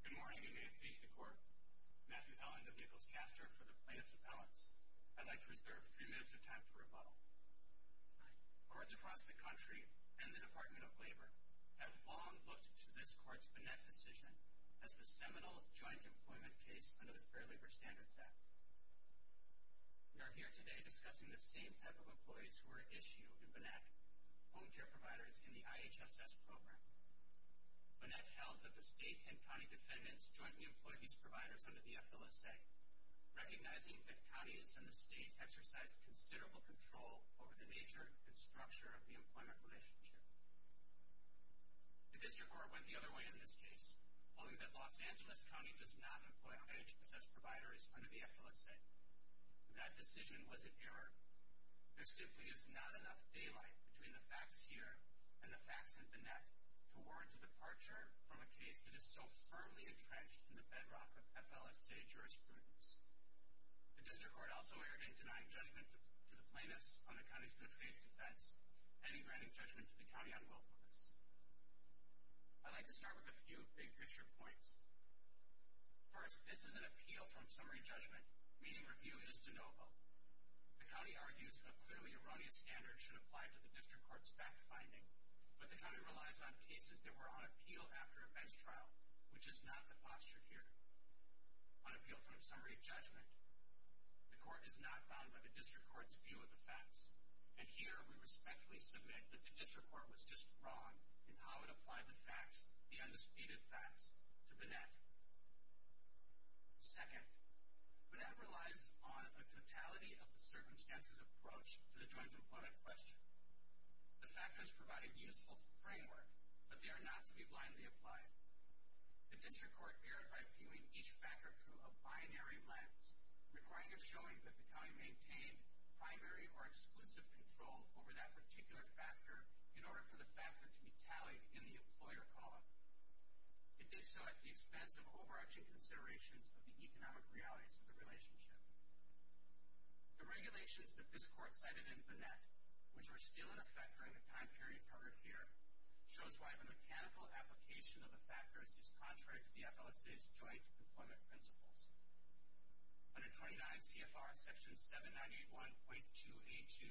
Good morning and may it please the Court. Matthew Allen of Nichols-Castor for the Plaintiffs Appellants. I'd like to reserve three minutes of time for rebuttal. Courts across the country and the Department of Labor have long looked to this Court's BNEC decision as the seminal joint employment case under the Fair Labor Standards Act. We are here today discussing the same type of employees who are at issue in BNEC, home care providers in the IHSS program. BNEC held that the state and county defendants jointly employed these providers under the FLSA, recognizing that counties and the state exercised considerable control over the nature and structure of the employment relationship. The District Court went the other way in this case, holding that Los Angeles County does not employ IHSS providers under the FLSA. That decision was an error. There simply is not enough daylight between the facts here and the facts in BNEC to warrant the departure from a case that is so firmly entrenched in the bedrock of FLSA jurisprudence. The District Court also erred in denying judgment to the plaintiffs on the county's good faith defense and in granting judgment to the county on willfulness. I'd like to start with a few big picture points. First, this is an appeal from summary judgment, meaning review is de novo. The county argues a clearly erroneous standard should apply to the District Court's fact-finding, but the county relies on cases that were on appeal after a bench trial, which is not the posture here. On appeal from summary judgment, the court is not bound by the District Court's view of the facts, and here we respectfully submit that the District Court was just wrong in how it applied the facts, the undisputed facts, to BNEC. Second, BNEC relies on a totality-of-the-circumstances approach to the joint-employment question. The factors provide a useful framework, but they are not to be blindly applied. The District Court erred by viewing each factor through a binary lens, requiring a showing that the county maintained primary or exclusive control over that particular factor in order for the factor to be tallied in the employer column. It did so at the expense of overarching considerations of the economic realities of the relationship. The regulations that this Court cited in BNEC, which are still in effect during the time period covered here, shows why the mechanical application of the factors is contrary to the FLSA's joint-employment principles. Under 29 CFR Section 7981.2a.2,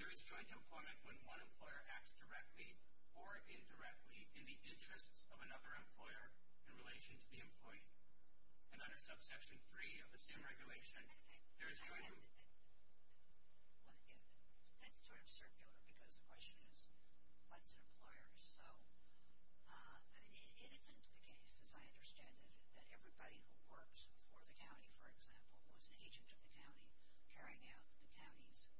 there is joint-employment when one employer acts directly or indirectly in the interests of another employer in relation to the employee. And under subsection 3 of the same regulation, there is joint- That's sort of circular because the question is, what's an employer? So, it isn't the case, as I understand it, that everybody who works for the county, for example, was an agent of the county carrying out the county's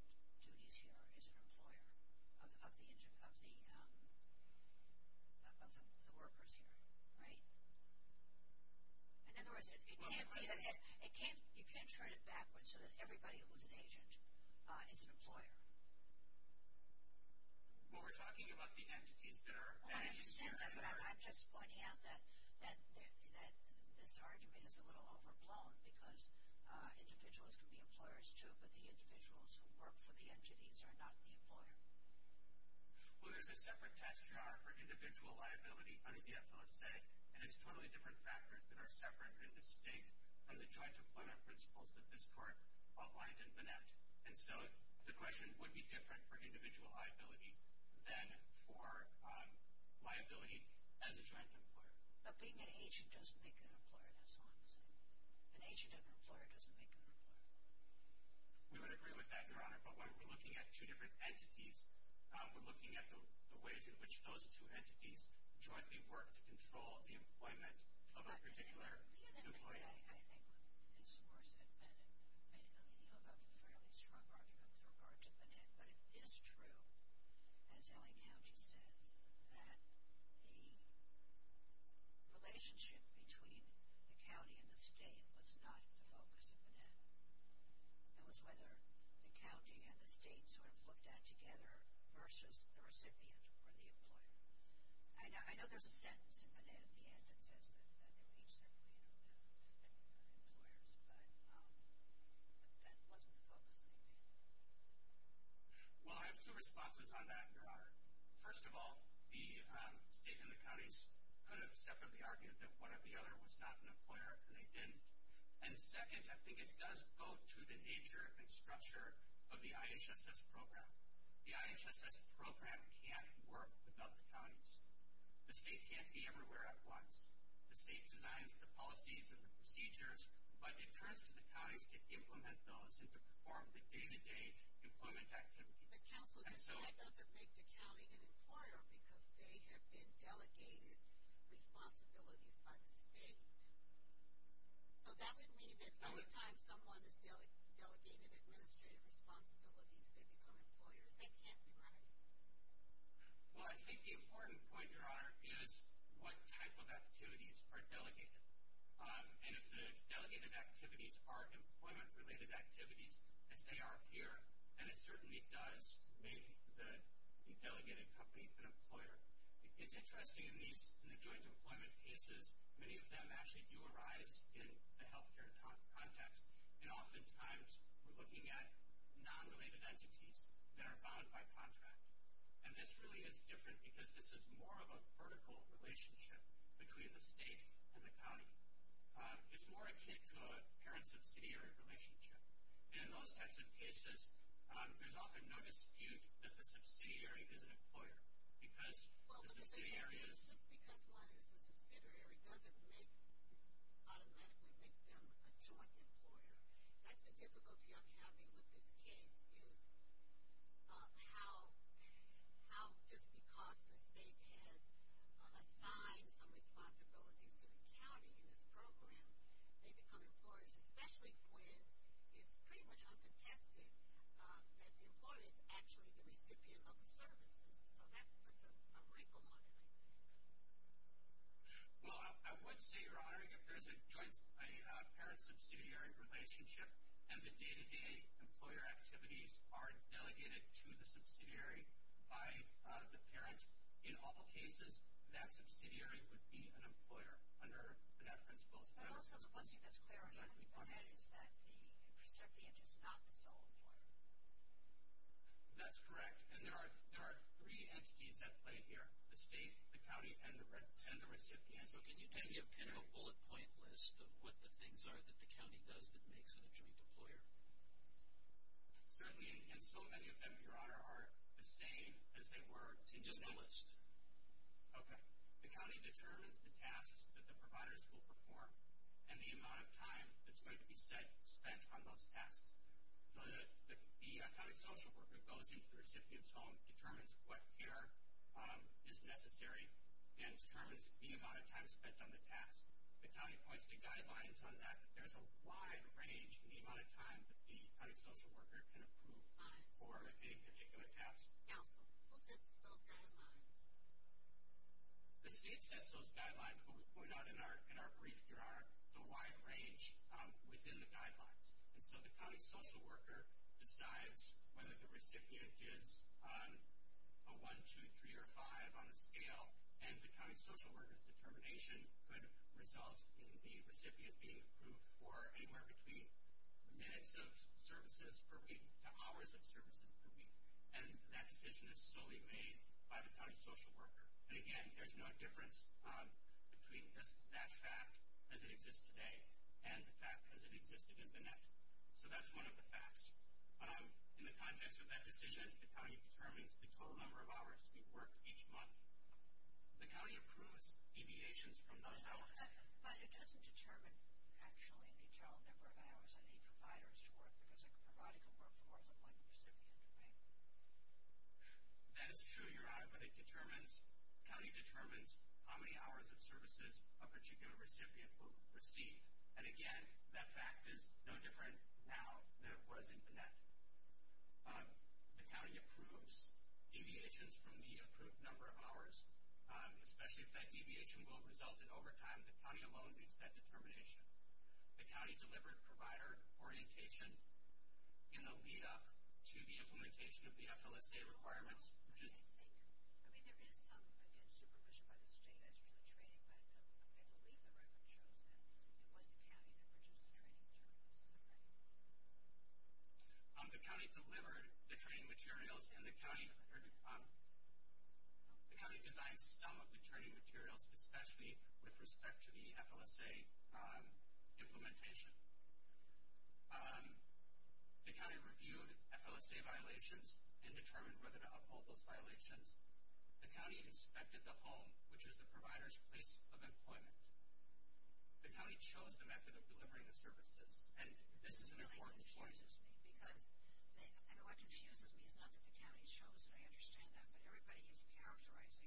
duties here as an employer of the workers here, right? In other words, it can't be that- You can't turn it backwards so that everybody who was an agent is an employer. Well, we're talking about the entities that are- I understand that, but I'm just pointing out that this argument is a little overblown because individuals can be employers too, but the individuals who work for the entities are not the employer. Well, there's a separate test jar for individual liability under the FLSA, and it's totally different factors that are separate and distinct from the joint-employment principles that this Court outlined in BINET. And so, the question would be different for individual liability than for liability as a joint-employer. But being an agent doesn't make an employer, does it? An agent of an employer doesn't make an employer. We would agree with that, Your Honor. But when we're looking at two different entities, we're looking at the ways in which those two entities jointly work to control the employment of a particular employee. The other thing that I think is worse than BINET, and you know about the fairly strong argument with regard to BINET, but it is true, as L.A. County says, that the relationship between the county and the state was not the focus of BINET. It was whether the county and the state sort of looked at together versus the recipient or the employer. I know there's a sentence in BINET at the end that says that they reach their employers, but that wasn't the focus of the BINET. Well, I have two responses on that, Your Honor. First of all, the state and the counties could have separately argued that one or the other was not an employer, and they didn't. And second, I think it does go to the nature and structure of the IHSS program. The IHSS program can't work without the counties. The state can't be everywhere at once. The state designs the policies and the procedures, but it turns to the counties to implement those and to perform the day-to-day employment activities. But, Counselor, that doesn't make the county an employer, because they have been delegated responsibilities by the state. So that would mean that by the time someone is delegated administrative responsibilities, they become employers. They can't be right. Well, I think the important point, Your Honor, is what type of activities are delegated. And if the delegated activities are employment-related activities, as they are here, then it certainly does make the delegated company an employer. It's interesting in the joint employment cases, many of them actually do arise in the health care context, and oftentimes we're looking at non-related entities that are bound by contract. And this really is different, because this is more of a vertical relationship between the state and the county. It's more akin to a parent-subsidiary relationship. And in those types of cases, there's often no dispute that the subsidiary is an employer, because the subsidiary is. Well, just because one is a subsidiary doesn't automatically make them a joint employer. That's the difficulty I'm having with this case, is how just because the state has assigned some responsibilities to the county in this program, they become employers, especially when it's pretty much uncontested that the employer is actually the recipient of the services. So that puts a wrinkle on it, I think. Well, I would say, Your Honor, if there's a joint parent-subsidiary relationship and the day-to-day employer activities are delegated to the subsidiary by the parent in all cases, that subsidiary would be an employer under that principle as well. No, so let's see this clearly. What we've learned is that the recipient is not the sole employer. That's correct. And there are three entities at play here. The state, the county, and the recipient. So can you give me a kind of a bullet point list of what the things are that the county does that makes it a joint employer? Certainly, and so many of them, Your Honor, are the same as they were to begin with. Just the list. Okay. The county determines the tasks that the providers will perform and the amount of time that's going to be spent on those tasks. The county social worker goes into the recipient's home, determines what care is necessary, and determines the amount of time spent on the task. The county points to guidelines on that. There's a wide range in the amount of time that the county social worker can approve for a particular task. Counsel, who sets those guidelines? The state sets those guidelines, but we point out in our brief, Your Honor, the wide range within the guidelines. And so the county social worker decides whether the recipient is a one, two, three, or five on a scale, and the county social worker's determination could result in the recipient being approved for anywhere between minutes of services per week to hours of services per week. And that decision is solely made by the county social worker. And, again, there's no difference between that fact as it exists today and the fact as it existed in the net. So that's one of the facts. In the context of that decision, the county determines the total number of hours to be worked each month. The county approves deviations from those hours. But it doesn't determine, actually, the total number of hours any provider is to work, because a provider can work for more than one recipient, right? That is true, Your Honor, but it determines, the county determines, how many hours of services a particular recipient will receive. And, again, that fact is no different now than it was in the net. The county approves deviations from the approved number of hours, especially if that deviation will result in overtime. The county alone makes that determination. The county delivered provider orientation in the lead-up to the implementation of the FLSA requirements. What do they think? I mean, there is some, again, supervision by the state as to the training, but I believe the record shows that it was the county that produced the training materials. Is that right? The county delivered the training materials, and the county designed some of the training materials, especially with respect to the FLSA implementation. The county reviewed FLSA violations and determined whether to uphold those violations. The county inspected the home, which is the provider's place of employment. The county chose the method of delivering the services, and this is an important point. This really confuses me, because what confuses me is not that the county chose, and I understand that, but everybody is characterizing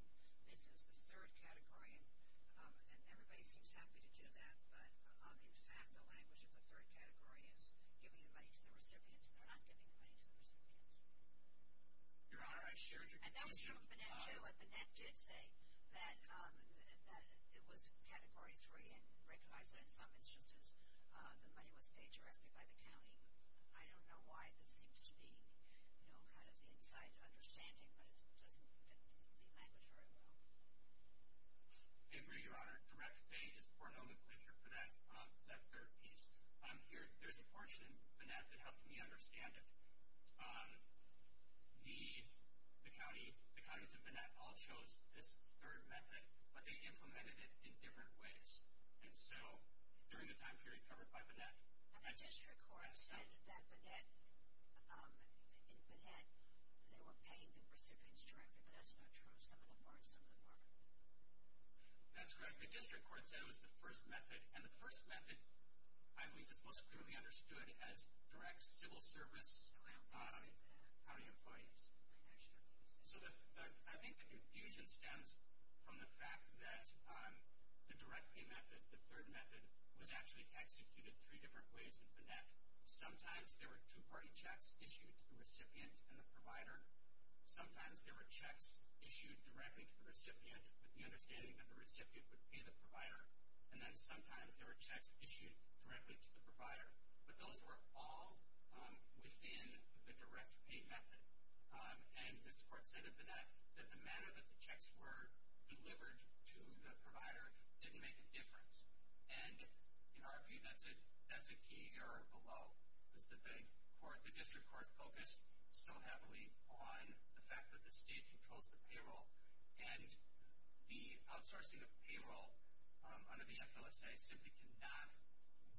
this is the third category, and everybody seems happy to do that. But, in fact, the language of the third category is giving the money to the recipients, and they're not giving the money to the recipients. Your Honor, I shared your conclusion. And that was from Bennett, too. And Bennett did say that it was Category 3, and recognized that in some instances the money was paid directly by the county. I mean, I don't know why this seems to be, you know, kind of the inside understanding, but it doesn't fit the language very well. Avery, Your Honor, direct pay is pornographically here for that third piece. There's a portion in Bennett that helped me understand it. The counties of Bennett all chose this third method, but they implemented it in different ways. And so, during the time period covered by Bennett, the district court decided that in Bennett they were paying the recipients directly, but that's not true. Some of them were, and some of them weren't. That's correct. The district court said it was the first method, and the first method, I believe, is most clearly understood as direct civil service county employees. So, I think the confusion stems from the fact that the direct pay method, the third method, was actually executed three different ways in Bennett. Sometimes there were two-party checks issued to the recipient and the provider. Sometimes there were checks issued directly to the recipient with the understanding that the recipient would pay the provider. And then sometimes there were checks issued directly to the provider. But those were all within the direct pay method. And this court said in Bennett that the manner that the checks were delivered to the provider didn't make a difference. And, in our view, that's a key error below, is that the district court focused so heavily on the fact that the state controls the payroll. And the outsourcing of payroll under the FLSA simply cannot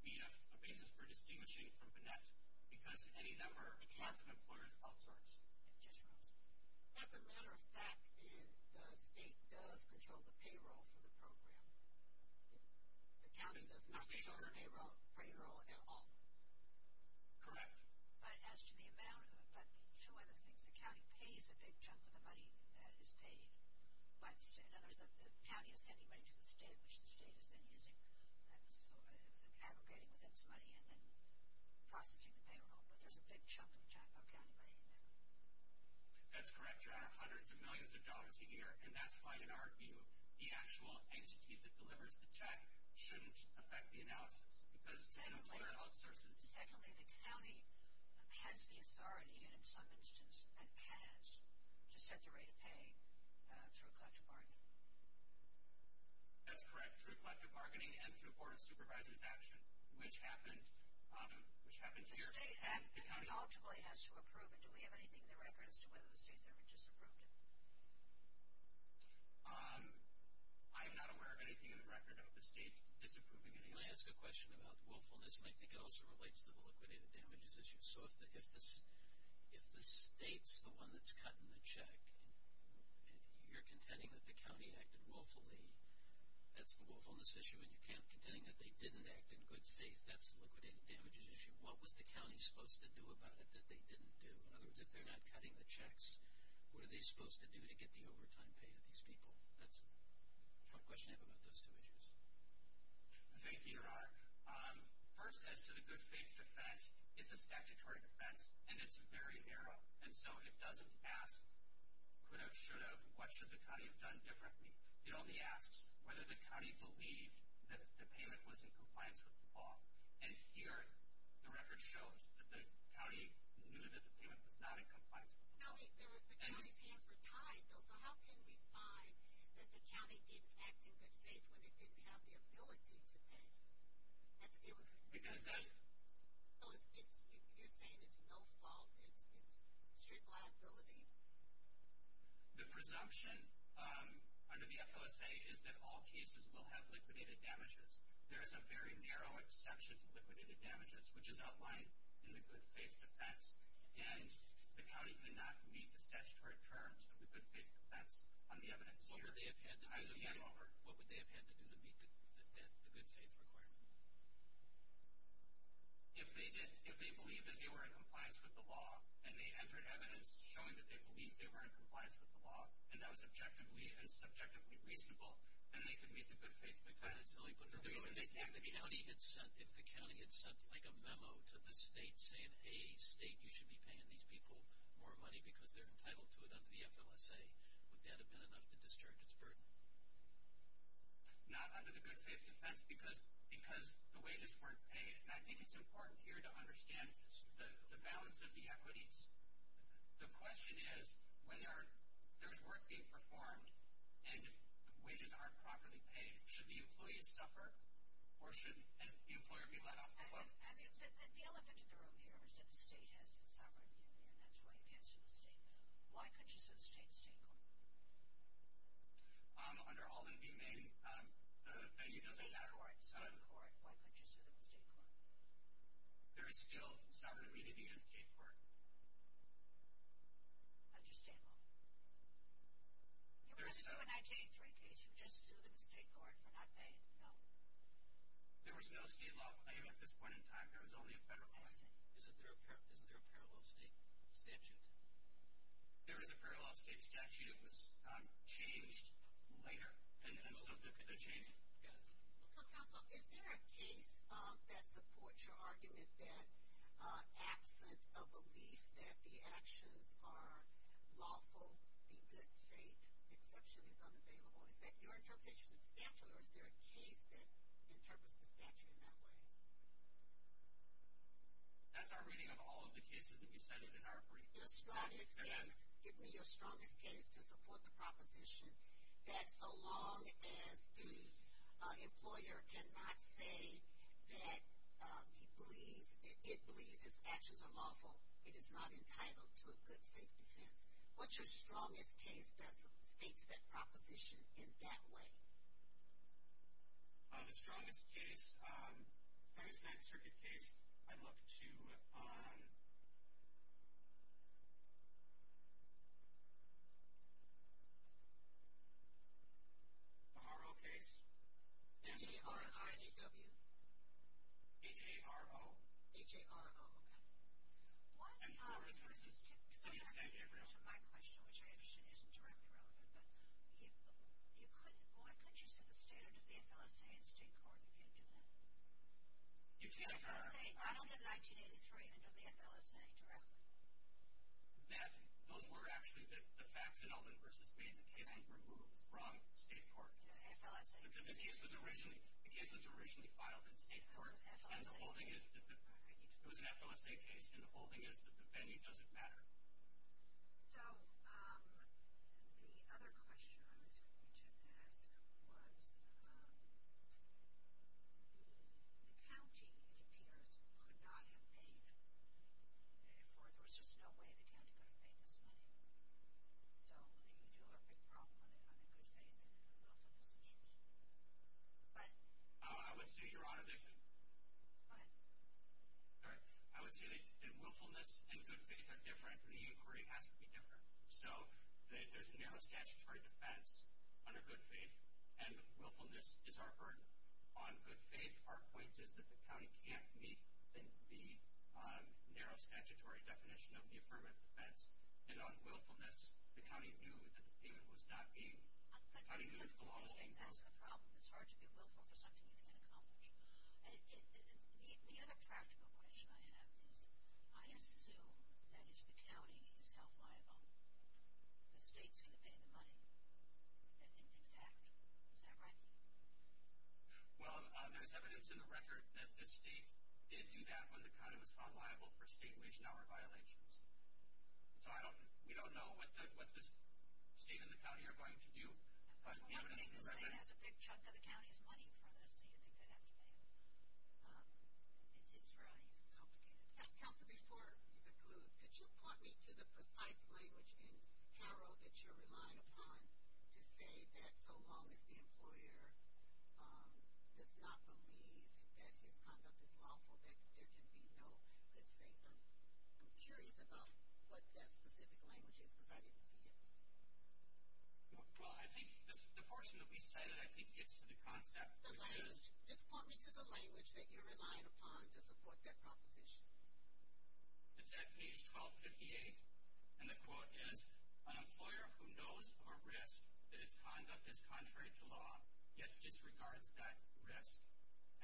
be a basis for distinguishing from Bennett because any number of counts of employers outsource. As a matter of fact, the state does control the payroll for the program. The county does not control the payroll at all. Correct. But as to the amount of it, two other things. The county pays a big chunk of the money that is paid by the state. In other words, the county is sending money to the state, which the state is then using, aggregating with its money and then processing the payroll. But there's a big chunk of county money in there. That's correct. There are hundreds of millions of dollars a year. And that's why, in our view, the actual entity that delivers the check shouldn't affect the analysis. Secondly, the county has the authority, and in some instances has, to set the rate of pay through collective bargaining. That's correct. Through collective bargaining and through Board of Supervisors action, which happened here. The state has to approve it. Do we have anything in the record as to whether the state has ever disapproved it? I am not aware of anything in the record of the state disapproving anything. Can I ask a question about willfulness? And I think it also relates to the liquidated damages issue. So if the state's the one that's cutting the check and you're contending that the county acted willfully, that's the willfulness issue, and you're contending that they didn't act in good faith, that's the liquidated damages issue. What was the county supposed to do about it that they didn't do? In other words, if they're not cutting the checks, what are they supposed to do to get the overtime paid to these people? That's the question I have about those two issues. Thank you, Eric. First, as to the good faith defense, it's a statutory defense, and it's very narrow. And so it doesn't ask could have, should have, what should the county have done differently. It only asks whether the county believed that the payment was in compliance with the law. And here the record shows that the county knew that the payment was not in compliance with the law. No, the county's hands were tied, though. So how can we find that the county did act in good faith when it didn't have the ability to pay? Because you're saying it's no fault, it's strict liability? The presumption under the FOSA is that all cases will have liquidated damages. There is a very narrow exception to liquidated damages, which is outlined in the good faith defense. And the county did not meet the statutory terms of the good faith defense on the evidence here. What would they have had to do to meet the good faith requirement? If they did, if they believed that they were in compliance with the law, and they entered evidence showing that they believed they were in compliance with the law, and that was objectively and subjectively reasonable, then they could meet the good faith defense. If the county had sent like a memo to the state saying, hey, state, you should be paying these people more money because they're entitled to it under the FLSA, would that have been enough to discharge its burden? Not under the good faith defense because the wages weren't paid. And I think it's important here to understand the balance of the equities. The question is, when there's work being performed and wages aren't properly paid, should the employee suffer or should the employer be let off the hook? And the elephant in the room here is that the state has the sovereign immunity, and that's why you can't sue the state. Why couldn't you sue the state in the state court? Under all the new name, the venue doesn't have it. In the court, so in the court. Why couldn't you sue them in the state court? There is still sovereign immunity in the state court. Under state law. You wouldn't sue a 1983 case. You'd just sue them in state court for not paying. No. There was no state law claim at this point in time. There was only a federal one. I see. Isn't there a parallel state statute? There is a parallel state statute. It was changed later, and so they changed it. Counsel, is there a case that supports your argument that absent a belief that the actions are lawful, the good faith exception is unavailable? Is that your interpretation of the statute, or is there a case that interprets the statute in that way? That's our reading of all of the cases that we cited in our brief. Give me your strongest case to support the proposition that so long as the employer cannot say that it believes its actions are lawful, it is not entitled to a good faith defense. What's your strongest case that states that proposition in that way? The strongest case? If I was in that circuit case, I'd look to a R.O. case. A T.R.O. R.I.D.W. A.J.R.O. A.J.R.O., okay. My question, which I understand isn't directly relevant, but why couldn't you see the state under the F.L.S.A. in state court? You can't do that. I don't know the 1983 under the F.L.S.A. directly. Those were actually the facts in Elvin v. Wade. The case was removed from state court. The F.L.S.A. The case was originally filed in state court. It was an F.L.S.A. case, and the whole thing is that the venue doesn't matter. So the other question I was going to ask was the county, it appears, could not have paid. There was just no way the county could have paid this money. So you do have a big problem on the good faith end of this issue. Go ahead. I would say you're on a mission. Go ahead. All right. I would say that willfulness and good faith are different, and the inquiry has to be different. So there's a narrow statutory defense under good faith, and willfulness is our burden. On good faith, our point is that the county can't meet the narrow statutory definition of the affirmative defense. And on willfulness, the county knew that the payment was not paid. But good faith, that's the problem. It's hard to be willful for something you didn't accomplish. The other practical question I have is I assume that if the county is held liable, the state's going to pay the money, in fact. Is that right? Well, there's evidence in the record that this state did do that when the county was found liable for state wage and hour violations. So we don't know what this state and the county are going to do. For one thing, the state has a big chunk of the county's money in front of them, so you think they'd have to pay it. It's really complicated. Counsel, before you conclude, could you point me to the precise language in Harrell that you're relying upon to say that so long as the employer does not believe that his conduct is lawful, that there can be no good faith? I'm curious about what that specific language is because I didn't see it. Well, I think the portion that we cited I think gets to the concept. Just point me to the language that you're relying upon to support that proposition. It's at page 1258, and the quote is, an employer who knows of a risk that his conduct is contrary to law yet disregards that risk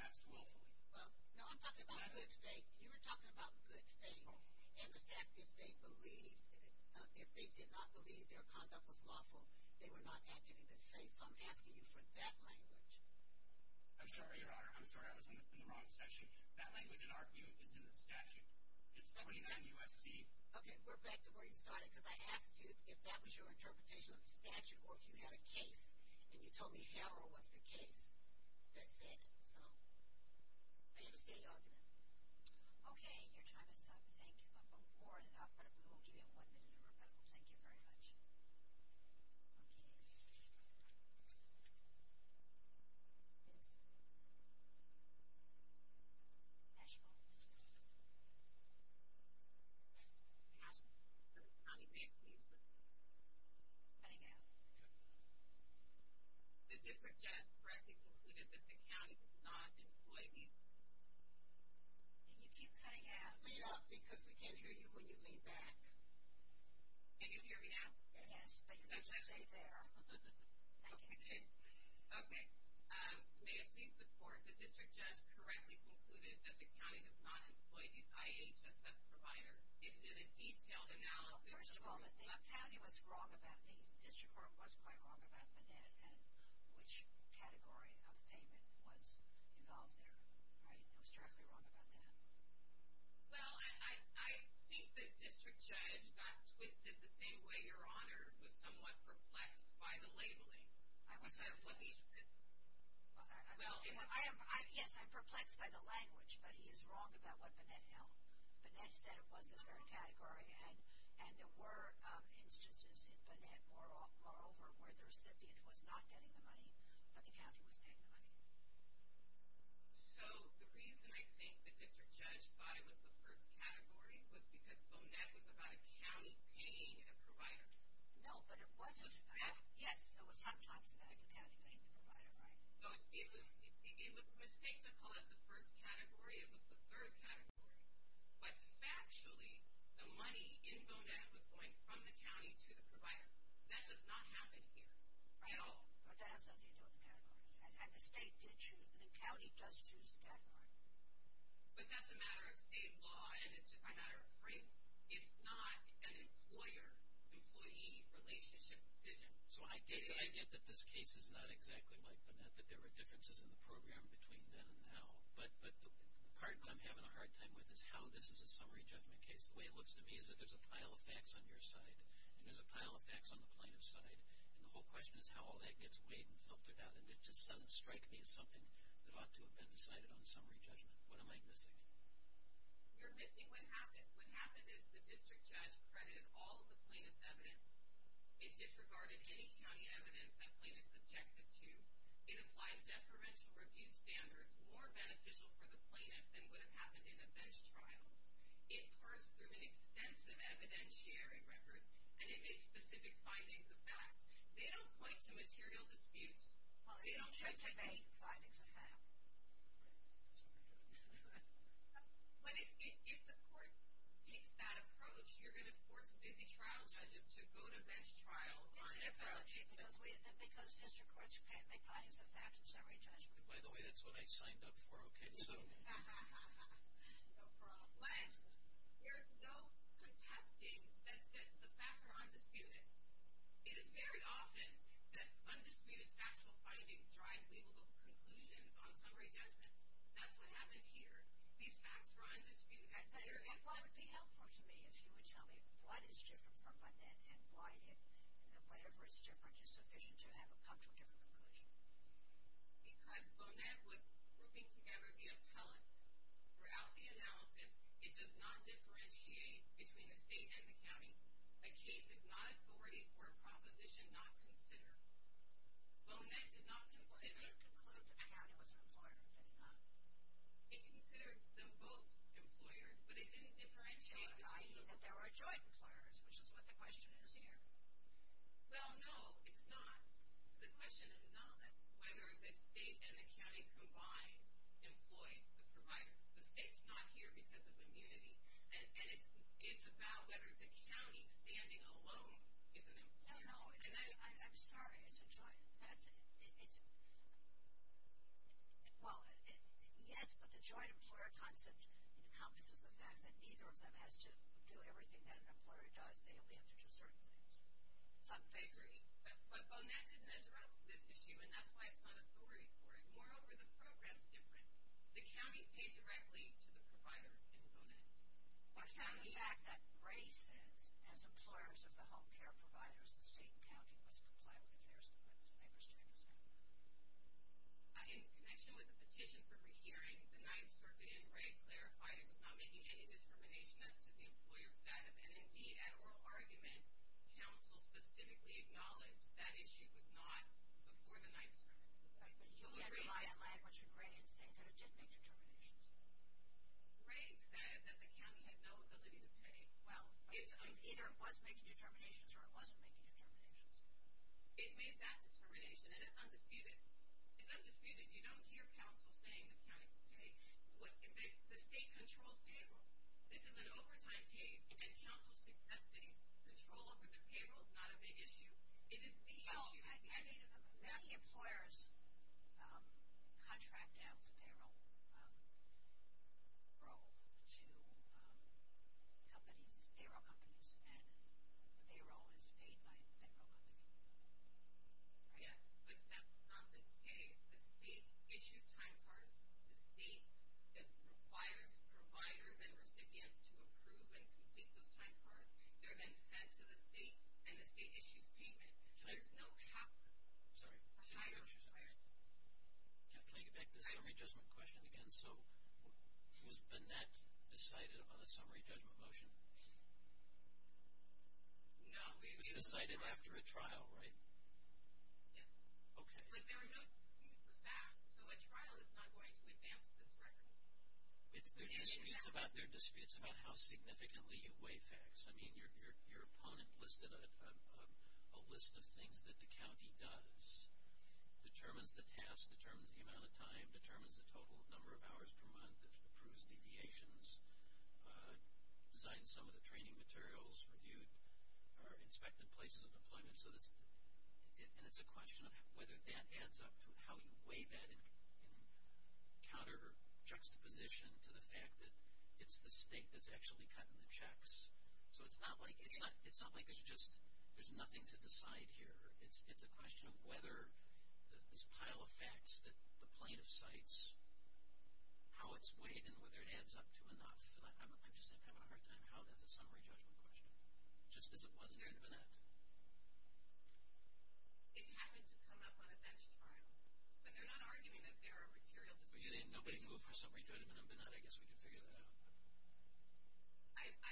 as willfully. Well, no, I'm talking about good faith. You were talking about good faith and the fact that if they did not believe their conduct was lawful, they were not acting in good faith, so I'm asking you for that language. I'm sorry, Your Honor. I'm sorry, I was in the wrong section. That language, in our view, is in the statute. It's 29 U.S.C. Okay, we're back to where you started because I asked you if that was your interpretation of the statute or if you had a case and you told me how or what's the case that said it. So, I understand your argument. Okay, your time is up. Thank you. Of course, we will give you one minute to rebuttal. Thank you very much. Okay. National. National. National. County, may it please the Court. Cutting out. The district judge correctly concluded that the county does not employ people. Can you keep cutting out? No, because we can't hear you when you lean back. Can you hear me now? Yes, but you're going to stay there. Okay. Okay. May it please the Court. The district judge correctly concluded that the county does not employ the IHSS provider. Is it a detailed analysis? Well, first of all, the county was wrong about me. The district court was quite wrong about the NED and which category of payment was involved there. I was directly wrong about that. Well, I think the district judge got twisted the same way your Honor was somewhat perplexed by the labeling. I was. Yes, I'm perplexed by the language, but he is wrong about what Bonnet held. Bonnet said it was the third category, and there were instances in Bonnet, moreover, where the recipient was not getting the money, but the county was paying the money. So the reason I think the district judge thought it was the first category was because Bonnet was about a county paying a provider. No, but it wasn't. Yes, it was sometimes about the county paying the provider, right? It was a mistake to call it the first category. It was the third category. But factually, the money in Bonnet was going from the county to the provider. That does not happen here. No. But that has nothing to do with the categories, and the county does choose the category. But that's a matter of state law, and it's just a matter of frame. It's not an employer-employee relationship decision. So I get that this case is not exactly like Bonnet, that there were differences in the program between then and now, but the part I'm having a hard time with is how this is a summary judgment case. The way it looks to me is that there's a pile of facts on your side, and there's a pile of facts on the plaintiff's side, and the whole question is how all that gets weighed and filtered out, and it just doesn't strike me as something that ought to have been decided on summary judgment. What am I missing? You're missing what happened. The district judge credited all of the plaintiff's evidence. It disregarded any county evidence that plaintiffs objected to. It applied deferential review standards, more beneficial for the plaintiff than would have happened in a bench trial. It parsed through an extensive evidentiary record, and it made specific findings of fact. They don't point to material disputes. Well, they don't show debate. The findings of fact. Sorry. If the court takes that approach, you're going to force a busy trial judge to go to bench trial on a judge. It's an apology because district courts can't make findings of fact in summary judgment. By the way, that's what I signed up for. Okay, so. No problem. But there's no contesting that the facts are undisputed. It is very often that undisputed factual findings drive labelable conclusions on summary judgment. That's what happened here. These facts were undisputed. It would be helpful to me if you would tell me what is different from Bonet and why whatever is different is sufficient to have it come to a different conclusion. Because Bonet was grouping together the appellants. Throughout the analysis, it does not differentiate between a state and a county. A case of not authority for a proposition not considered. Bonet did not consider. What if you concluded the county was an employer and did not? If you considered them both employers, but it didn't differentiate. I.e., that there were joint employers, which is what the question is here. Well, no, it's not. The question is not whether the state and the county combined employed the provider. The state's not here because of immunity. And it's about whether the county standing alone is an employer. No, no. I'm sorry. It's a joint. Well, yes, but the joint employer concept encompasses the fact that neither of them has to do everything that an employer does. They only have to do certain things. I agree. But Bonet didn't address this issue, and that's why it's not authority for it. Moreover, the program's different. The county paid directly to the provider in Bonet. Now, the fact that Gray says, as employers of the home care providers, the state and county must comply with the FARES commitments, I understand what you're saying. In connection with the petition for rehearing the Ninth Circuit, and Gray clarified it was not making any determination as to the employer's status. And, indeed, at oral argument, counsel specifically acknowledged that issue was not before the Ninth Circuit. But you had language with Gray in saying that it did make determinations. Gray said that the county had no ability to pay. Well, either it was making determinations or it wasn't making determinations. It made that determination, and it's undisputed. It's undisputed. You don't hear counsel saying the county can pay. The state controls payroll. This is an overtime case, and counsel's accepting control over the payroll is not a big issue. It is the issue. Many employers contract out the payroll to companies, payroll companies, and the payroll is paid by the payroll company. Yes, but that's not the case. The state issues time cards. The state requires providers and recipients to approve and complete those time cards. They're then sent to the state, and the state issues payment. There's no higher requirement. Can I get back to the summary judgment question again? So was Bennett decided on the summary judgment motion? No. It was decided after a trial, right? Yes. Okay. But there are no facts. So a trial is not going to advance this record. There are disputes about how significantly you weigh facts. I mean, your opponent listed a list of things that the county does, determines the task, determines the amount of time, determines the total number of hours per month, approves deviations, designed some of the training materials, inspected places of employment. And it's a question of whether that adds up to how you weigh that in counter or juxtaposition to the fact that it's the state that's actually cutting the checks. So it's not like it's just there's nothing to decide here. It's a question of whether this pile of facts that the plaintiff cites, how it's weighed, and whether it adds up to enough. And I'm just having a hard time how that's a summary judgment question, just as it was in Bennett. It happened to come up on a bench trial, but they're not arguing that there are material disputes. Nobody moved for a summary judgment in Bennett. I guess we can figure that out.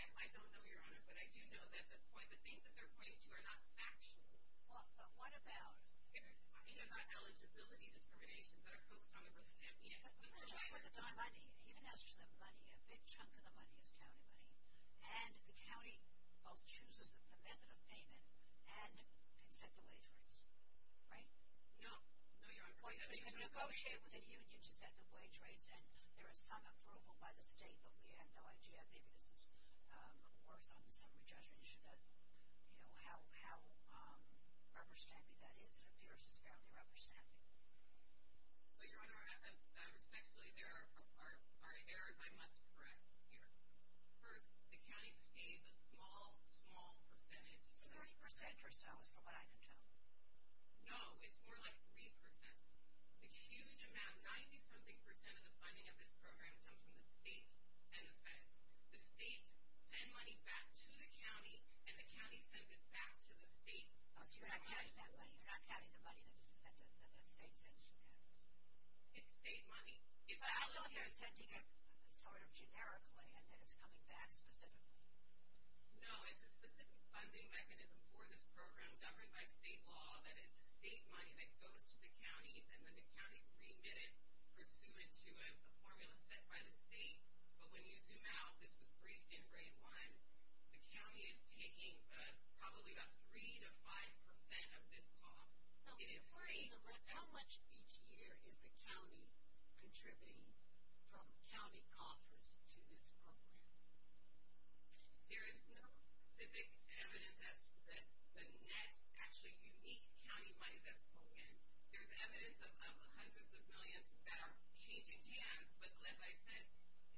I don't know, Your Honor, but I do know that the things that they're pointing to are not factual. Well, but what about? They're not eligibility determinations that are focused on the person's MPA. Even as for the money, a big chunk of the money is county money. And the county both chooses the method of payment and can set the wage rates, right? No, Your Honor. Well, you can negotiate with the union to set the wage rates, and there is some approval by the state, but we have no idea. Maybe this is a little worse on the summary judgment issue, how rubber-stampy that is. It appears it's fairly rubber-stampy. Well, Your Honor, respectfully, there are errors I must correct here. First, the county pays a small, small percentage. Thirty percent or so is what I can tell you. No, it's more like three percent. A huge amount, 90-something percent of the funding of this program comes from the state and the feds. The states send money back to the county, and the county sends it back to the state. Oh, so you're not counting that money, you're not counting the money that the state sends to counties. It's state money. But I'll note they're sending it sort of generically and then it's coming back specifically. No, it's a specific funding mechanism for this program governed by state law, that it's state money that goes to the counties, and then the counties remit it pursuant to a formula set by the state. But when you zoom out, this was briefed in Grade 1, the county is taking probably about three to five percent of this cost. How much each year is the county contributing from county coffers to this program? There is no specific evidence that the net actually unique county money that's going in. There's evidence of hundreds of millions that are changing hands, but like I said,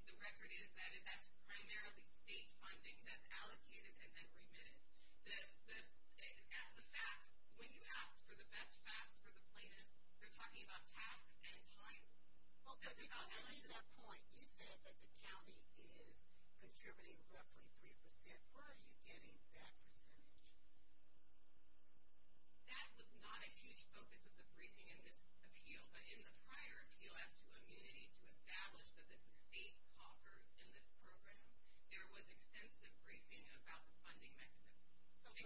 the record is that that's primarily state funding that's allocated and then remitted. The facts, when you ask for the best facts for the plaintiff, they're talking about tasks and time. Well, I mean that point. You said that the county is contributing roughly three percent. Where are you getting that percentage? That was not a huge focus of the briefing in this appeal, but in the prior appeal as to immunity to establish that the state coffers in this program, there was extensive briefing about the funding mechanism. But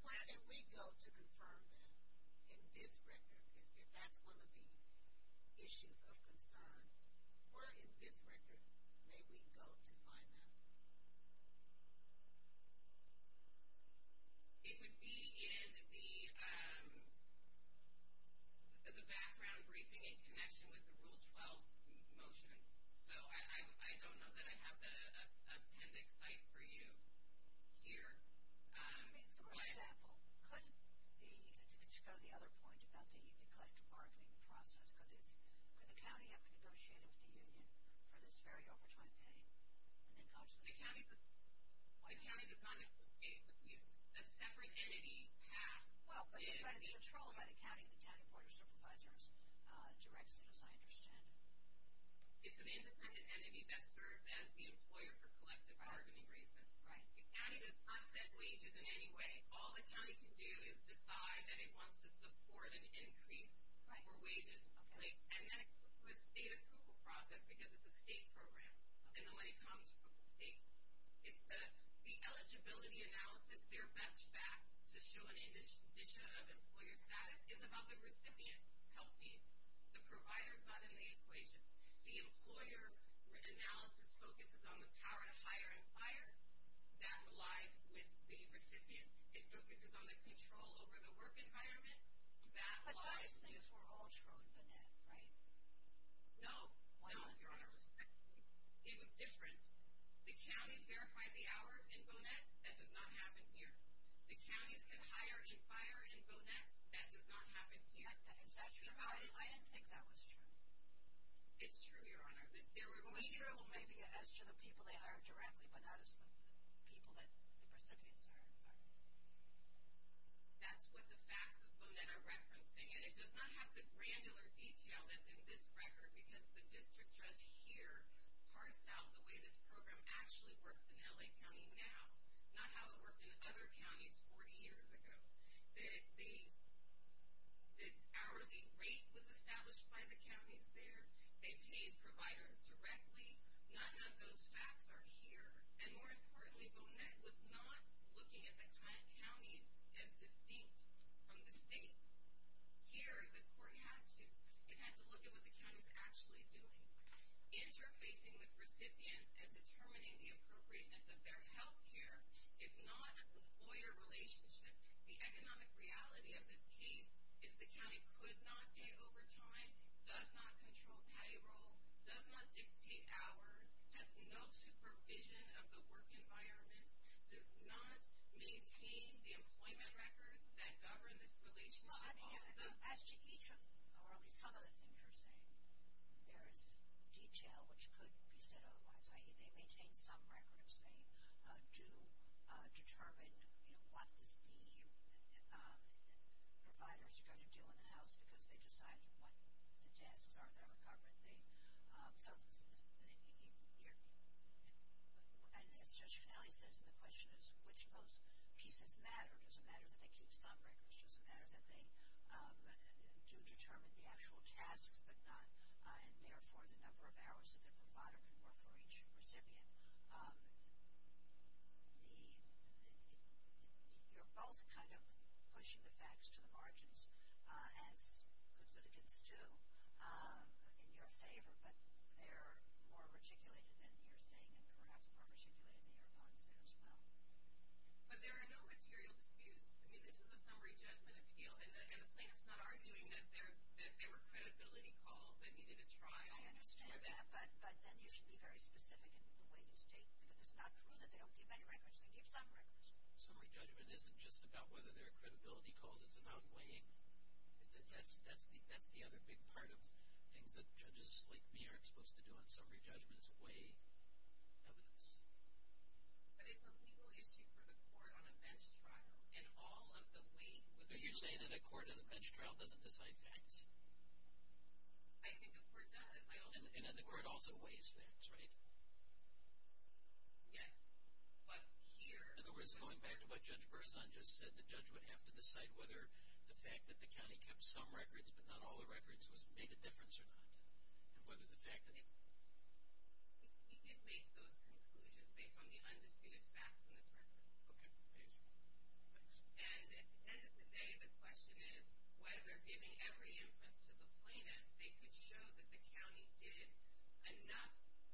where did we go to confirm that in this record, if that's one of the issues of concern? Where in this record may we go to find that? It would be in the background briefing in connection with the Rule 12 motions. So I don't know that I have the appendix site for you here. I mean, for example, could the other point about the collective bargaining process, could the county have to negotiate with the union for this very overtime pay? The county does not negotiate with the union. That's a separate entity path. Well, but it's controlled by the county and the county board of supervisors directs it, as I understand it. It's an independent entity that serves as the employer for collective bargaining reasons. The county does not set wages in any way. All the county can do is decide that it wants to support an increase for wages. And then it goes through a state approval process because it's a state program, and the money comes from the state. The eligibility analysis, their best fact to show an addition of employer status is about the recipient's health needs. The provider is not in the equation. The employer analysis focuses on the power to hire and fire. That relied with the recipient. It focuses on the control over the work environment. But those things were all true in Bonet, right? No, Your Honor. It was different. The counties verified the hours in Bonet. That does not happen here. The counties can hire and fire in Bonet. That does not happen here. Is that true? I didn't think that was true. It's true, Your Honor. It was true maybe as to the people they hire directly, but not as the people that the recipients hire and fire. That's what the facts of Bonet are referencing, and it does not have the granular detail that's in this record because the district judge here parsed out the way this program actually works in L.A. County now, not how it worked in other counties 40 years ago. The hourly rate was established by the counties there. They paid providers directly. None of those facts are here. And more importantly, Bonet was not looking at the kind of counties that are distinct from the state. Here, the court had to. It had to look at what the county is actually doing. Interfacing with recipients and determining the appropriateness of their health care, if not the employer relationship, the economic reality of this case, if the county could not pay overtime, does not control payroll, does not dictate hours, has no supervision of the work environment, does not maintain the employment records that govern this relationship. As to each or at least some of the things you're saying, there is detail which could be said otherwise. They maintain some records. They do determine what the providers are going to do in the house because they decide what the tasks are of their recovery. And as Judge Connelly says, the question is which of those pieces matter. Does it matter that they keep some records? Does it matter that they do determine the actual tasks and, therefore, the number of hours that the provider can work for each recipient? You're both kind of pushing the facts to the margins, as constituents do, in your favor, but they're more articulated than you're saying and perhaps more articulated than your thoughts there as well. But there are no material disputes. I mean, this is a summary judgment appeal, and the plaintiff's not arguing that there were credibility calls. They needed a trial. I understand that, but then you should be very specific in the way you state. It's not true that they don't keep any records. They keep some records. Summary judgment isn't just about whether there are credibility calls. It's about weighing. That's the other big part of things that judges like me aren't supposed to do on summary judgments, weigh evidence. But it's a legal issue for the court on a bench trial, Are you saying that a court on a bench trial doesn't decide facts? I think the court does. And then the court also weighs facts, right? Yes. In other words, going back to what Judge Berzon just said, the judge would have to decide whether the fact that the county kept some records but not all the records made a difference or not. He did make those conclusions based on the undisputed facts in this record. Okay, thank you. And at the end of the day, the question is, whether giving every inference to the plaintiffs, they could show that the county did enough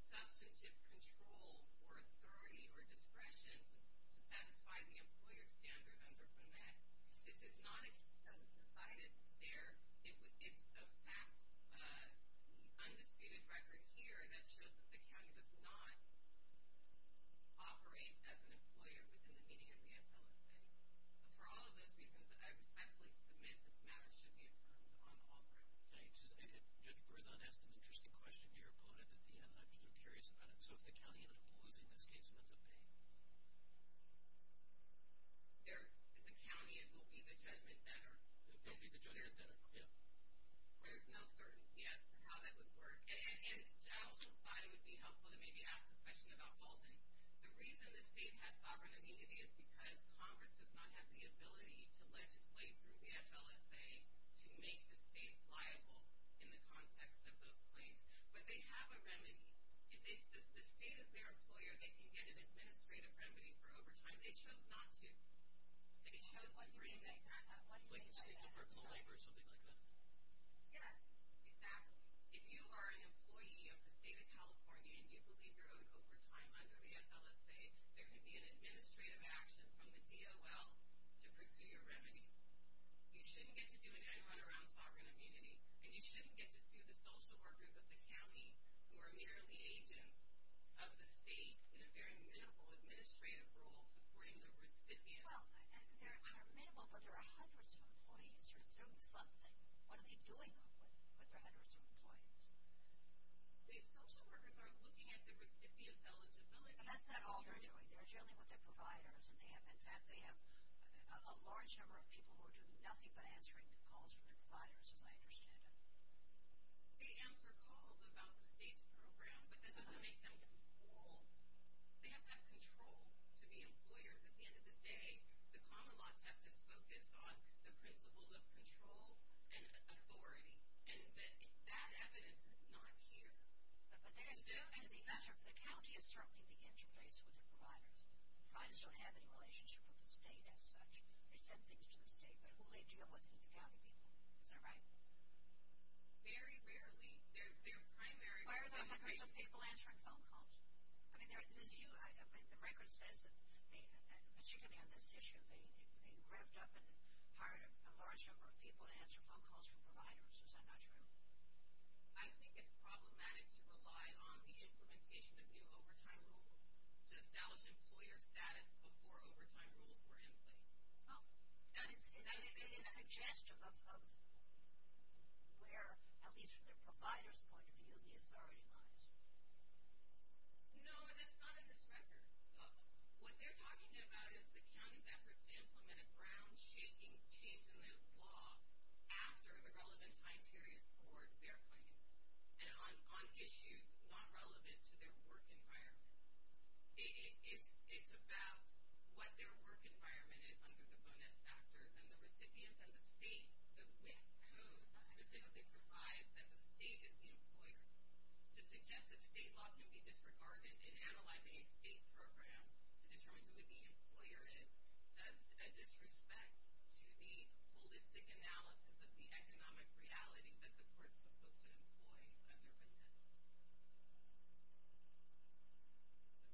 substantive control or authority or discretion to satisfy the employer standard under BEMET. This is not a case that was decided there. It's a fact, undisputed record here, that shows that the county does not operate as an employer within the meaning of the infill estate. For all of those reasons, I respectfully submit this matter should be affirmed unauthorized. Judge Berzon asked an interesting question to your opponent at the end. I'm just curious about it. So if the county ended up losing this case, who ends up paying? If the county, it will be the judgment debtor. It will be the judgment debtor, yeah. There's no certainty as to how that would work. And I also thought it would be helpful to maybe ask a question about Baldwin. The reason the state has sovereign immunity is because Congress does not have the ability to legislate through the FLSA to make the states liable in the context of those claims. But they have a remedy. If the state is their employer, they can get an administrative remedy for overtime. They chose not to. They chose to bring in, like, the state corporate labor or something like that. Yeah, exactly. If you are an employee of the state of California and you believe you're owed overtime under the FLSA, there can be an administrative action from the DOL to pursue your remedy. You shouldn't get to do an end-run around sovereign immunity, and you shouldn't get to sue the social workers of the county who are merely agents of the state in a very minimal administrative role supporting the recipient. Well, they're minimal, but there are hundreds of employees who are doing something. What are they doing with their hundreds of employees? The social workers are looking at the recipient eligibility. And that's not all they're doing. They're dealing with their providers, and they have a large number of people who are doing nothing but answering calls from their providers, as I understand it. They answer calls about the state's program, but that doesn't make them control. They have to have control to be employers. At the end of the day, the common law test is focused on the principles of control and authority, and that evidence is not here. But the county is certainly the interface with the providers. Providers don't have any relationship with the state as such. They send things to the state, but who will they deal with? With the county people. Is that right? Very rarely. They're primarily... Why are there hundreds of people answering phone calls? The record says that, particularly on this issue, they revved up and hired a large number of people to answer phone calls from providers. Is that not true? I think it's problematic to rely on the implementation of new overtime rules to establish employer status before overtime rules were in place. It is suggestive of where, at least from the provider's point of view, the authority lies. No, that's not in this record. What they're talking about is the county's efforts to implement a ground-shaking change in the law after the relevant time period for their clients and on issues not relevant to their work environment. It's about what their work environment is under the bonus factors and the recipient and the state, the WIC code, that they provide that the state is the employer. To suggest that state law can be disregarded in analyzing a state program to determine who the employer is, that's a disrespect to the holistic analysis of the economic reality that the courts are supposed to employ under WIC.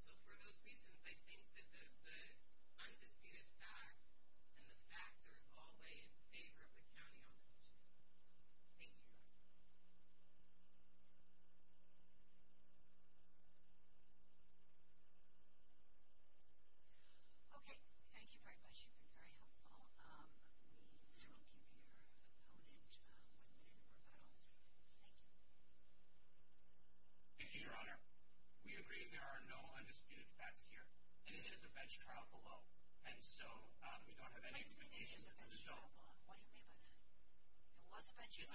So for those reasons, I think that the undisputed fact and the factors all lay in favor of the county on this issue. Thank you, Your Honor. Okay. Thank you very much. You've been very helpful. Let me talk to your opponent one minute or about all of you. Thank you. Thank you, Your Honor. We agree there are no undisputed facts here, and it is a bench trial below. And so we don't have any expectations. What do you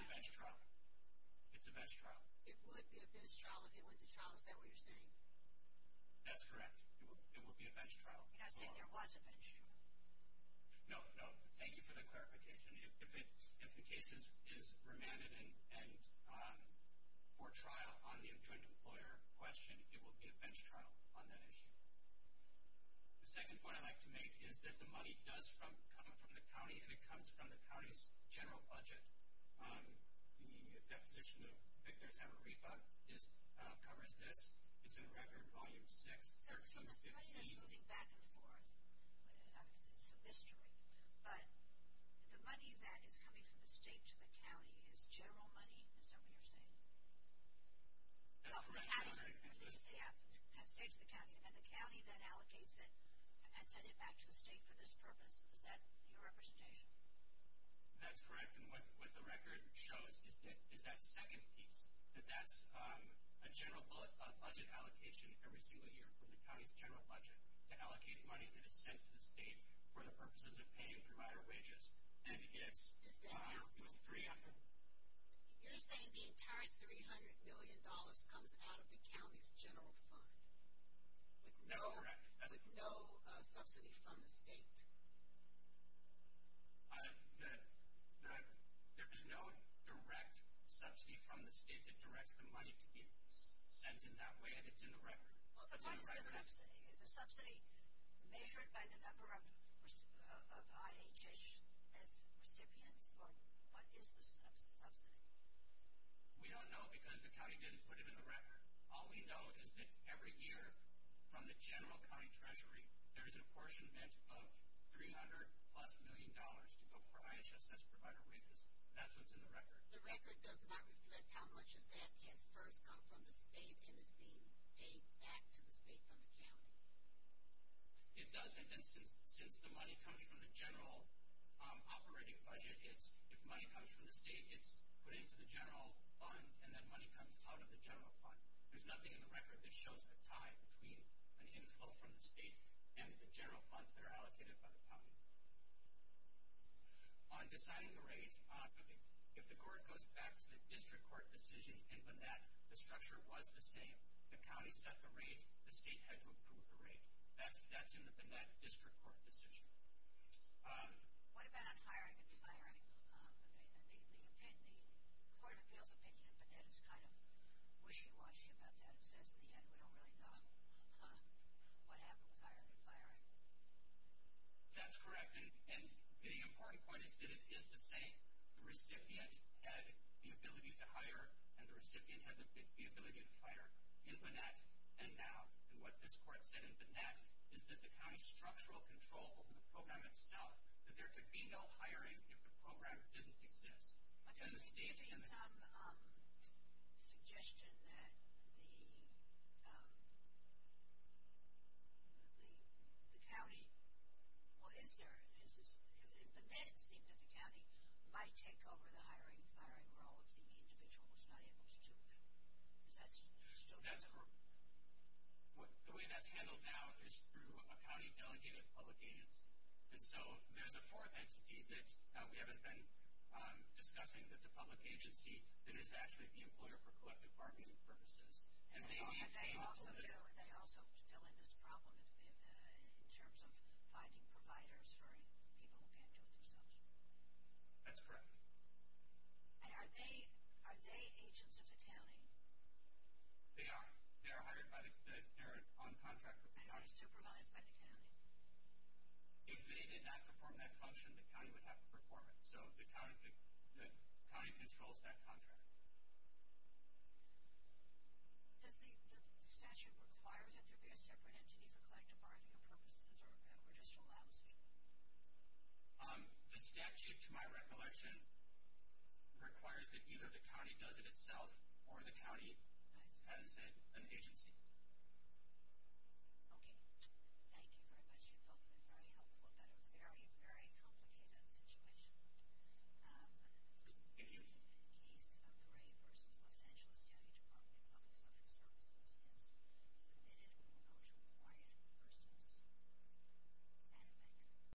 mean it's a bench trial? What do you mean by that? It was a bench trial? It's a bench trial. It's a bench trial. It would be a bench trial if it went to trial. Is that what you're saying? That's correct. It would be a bench trial. You're not saying there was a bench trial? No, no. Thank you for that clarification. If the case is remanded and for trial on the joint employer question, it will be a bench trial on that issue. The second point I'd like to make is that the money does come from the county, and it comes from the county's general budget. The deposition of Victor Zamarripa covers this. It's in Record Volume 6. So the budget is moving back and forth. It's a mystery. But the money that is coming from the state to the county is general money? Is that what you're saying? That's correct. The state has saved the county, and then the county then allocates it and sends it back to the state for this purpose. Is that your representation? That's correct. And what the record shows is that second piece, that that's a general budget allocation every single year from the county's general budget to allocate money that is sent to the state for the purposes of paying provider wages. And it's 300. You're saying the entire $300 million comes out of the county's general fund? That's correct. With no subsidy from the state? There is no direct subsidy from the state that directs the money to be sent in that way, and it's in the record. Is the subsidy measured by the number of IHSS recipients, or what is the subsidy? We don't know because the county didn't put it in the record. All we know is that every year from the general county treasury, there is an apportionment of $300 plus million to go for IHSS provider wages. That's what's in the record. The record does not reflect how much of that has first come from the state and is being paid back to the state from the county. It doesn't, and since the money comes from the general operating budget, if money comes from the state, it's put into the general fund, and that money comes out of the general fund. There's nothing in the record that shows a tie between an inflow from the state and the general funds that are allocated by the county. On deciding the rates, if the court goes back to the district court decision in BNET, the structure was the same. The county set the rate. The state had to approve the rate. That's in the BNET district court decision. What about on hiring and firing? The Court of Appeals opinion in BNET is kind of wishy-washy about that. It says, in the end, we don't really know what happened with hiring and firing. That's correct, and the important point is that it is the same. The recipient had the ability to hire, and the recipient had the ability to fire. In BNET, and now, and what this court said in BNET, is that the county's structural control over the program itself, that there could be no hiring if the program didn't exist. There may be some suggestion that the county, well, in BNET, it seemed that the county might take over the hiring and firing role if the individual was not able to do it. Is that still true? That's correct. The way that's handled now is through a county delegated public agency. There's a fourth entity that we haven't been discussing that's a public agency that is actually the employer for collective bargaining purposes. They also fill in this problem in terms of finding providers for people who can't do it themselves. That's correct. Are they agents of the county? They are. They are hired by the parent on contract. And are they supervised by the county? If they did not perform that function, the county would have to perform it. So the county controls that contract. Does the statute require that there be a separate entity for collective bargaining purposes, or just allows it? The statute, to my recollection, requires that either the county does it itself, or the county has, as I said, an agency. Okay. Thank you very much. You've both been very helpful about a very, very complicated situation. Thank you. The case of Gray v. Los Angeles County Department of Public Social Services is submitted. We will go to Wyatt v. Anbeck.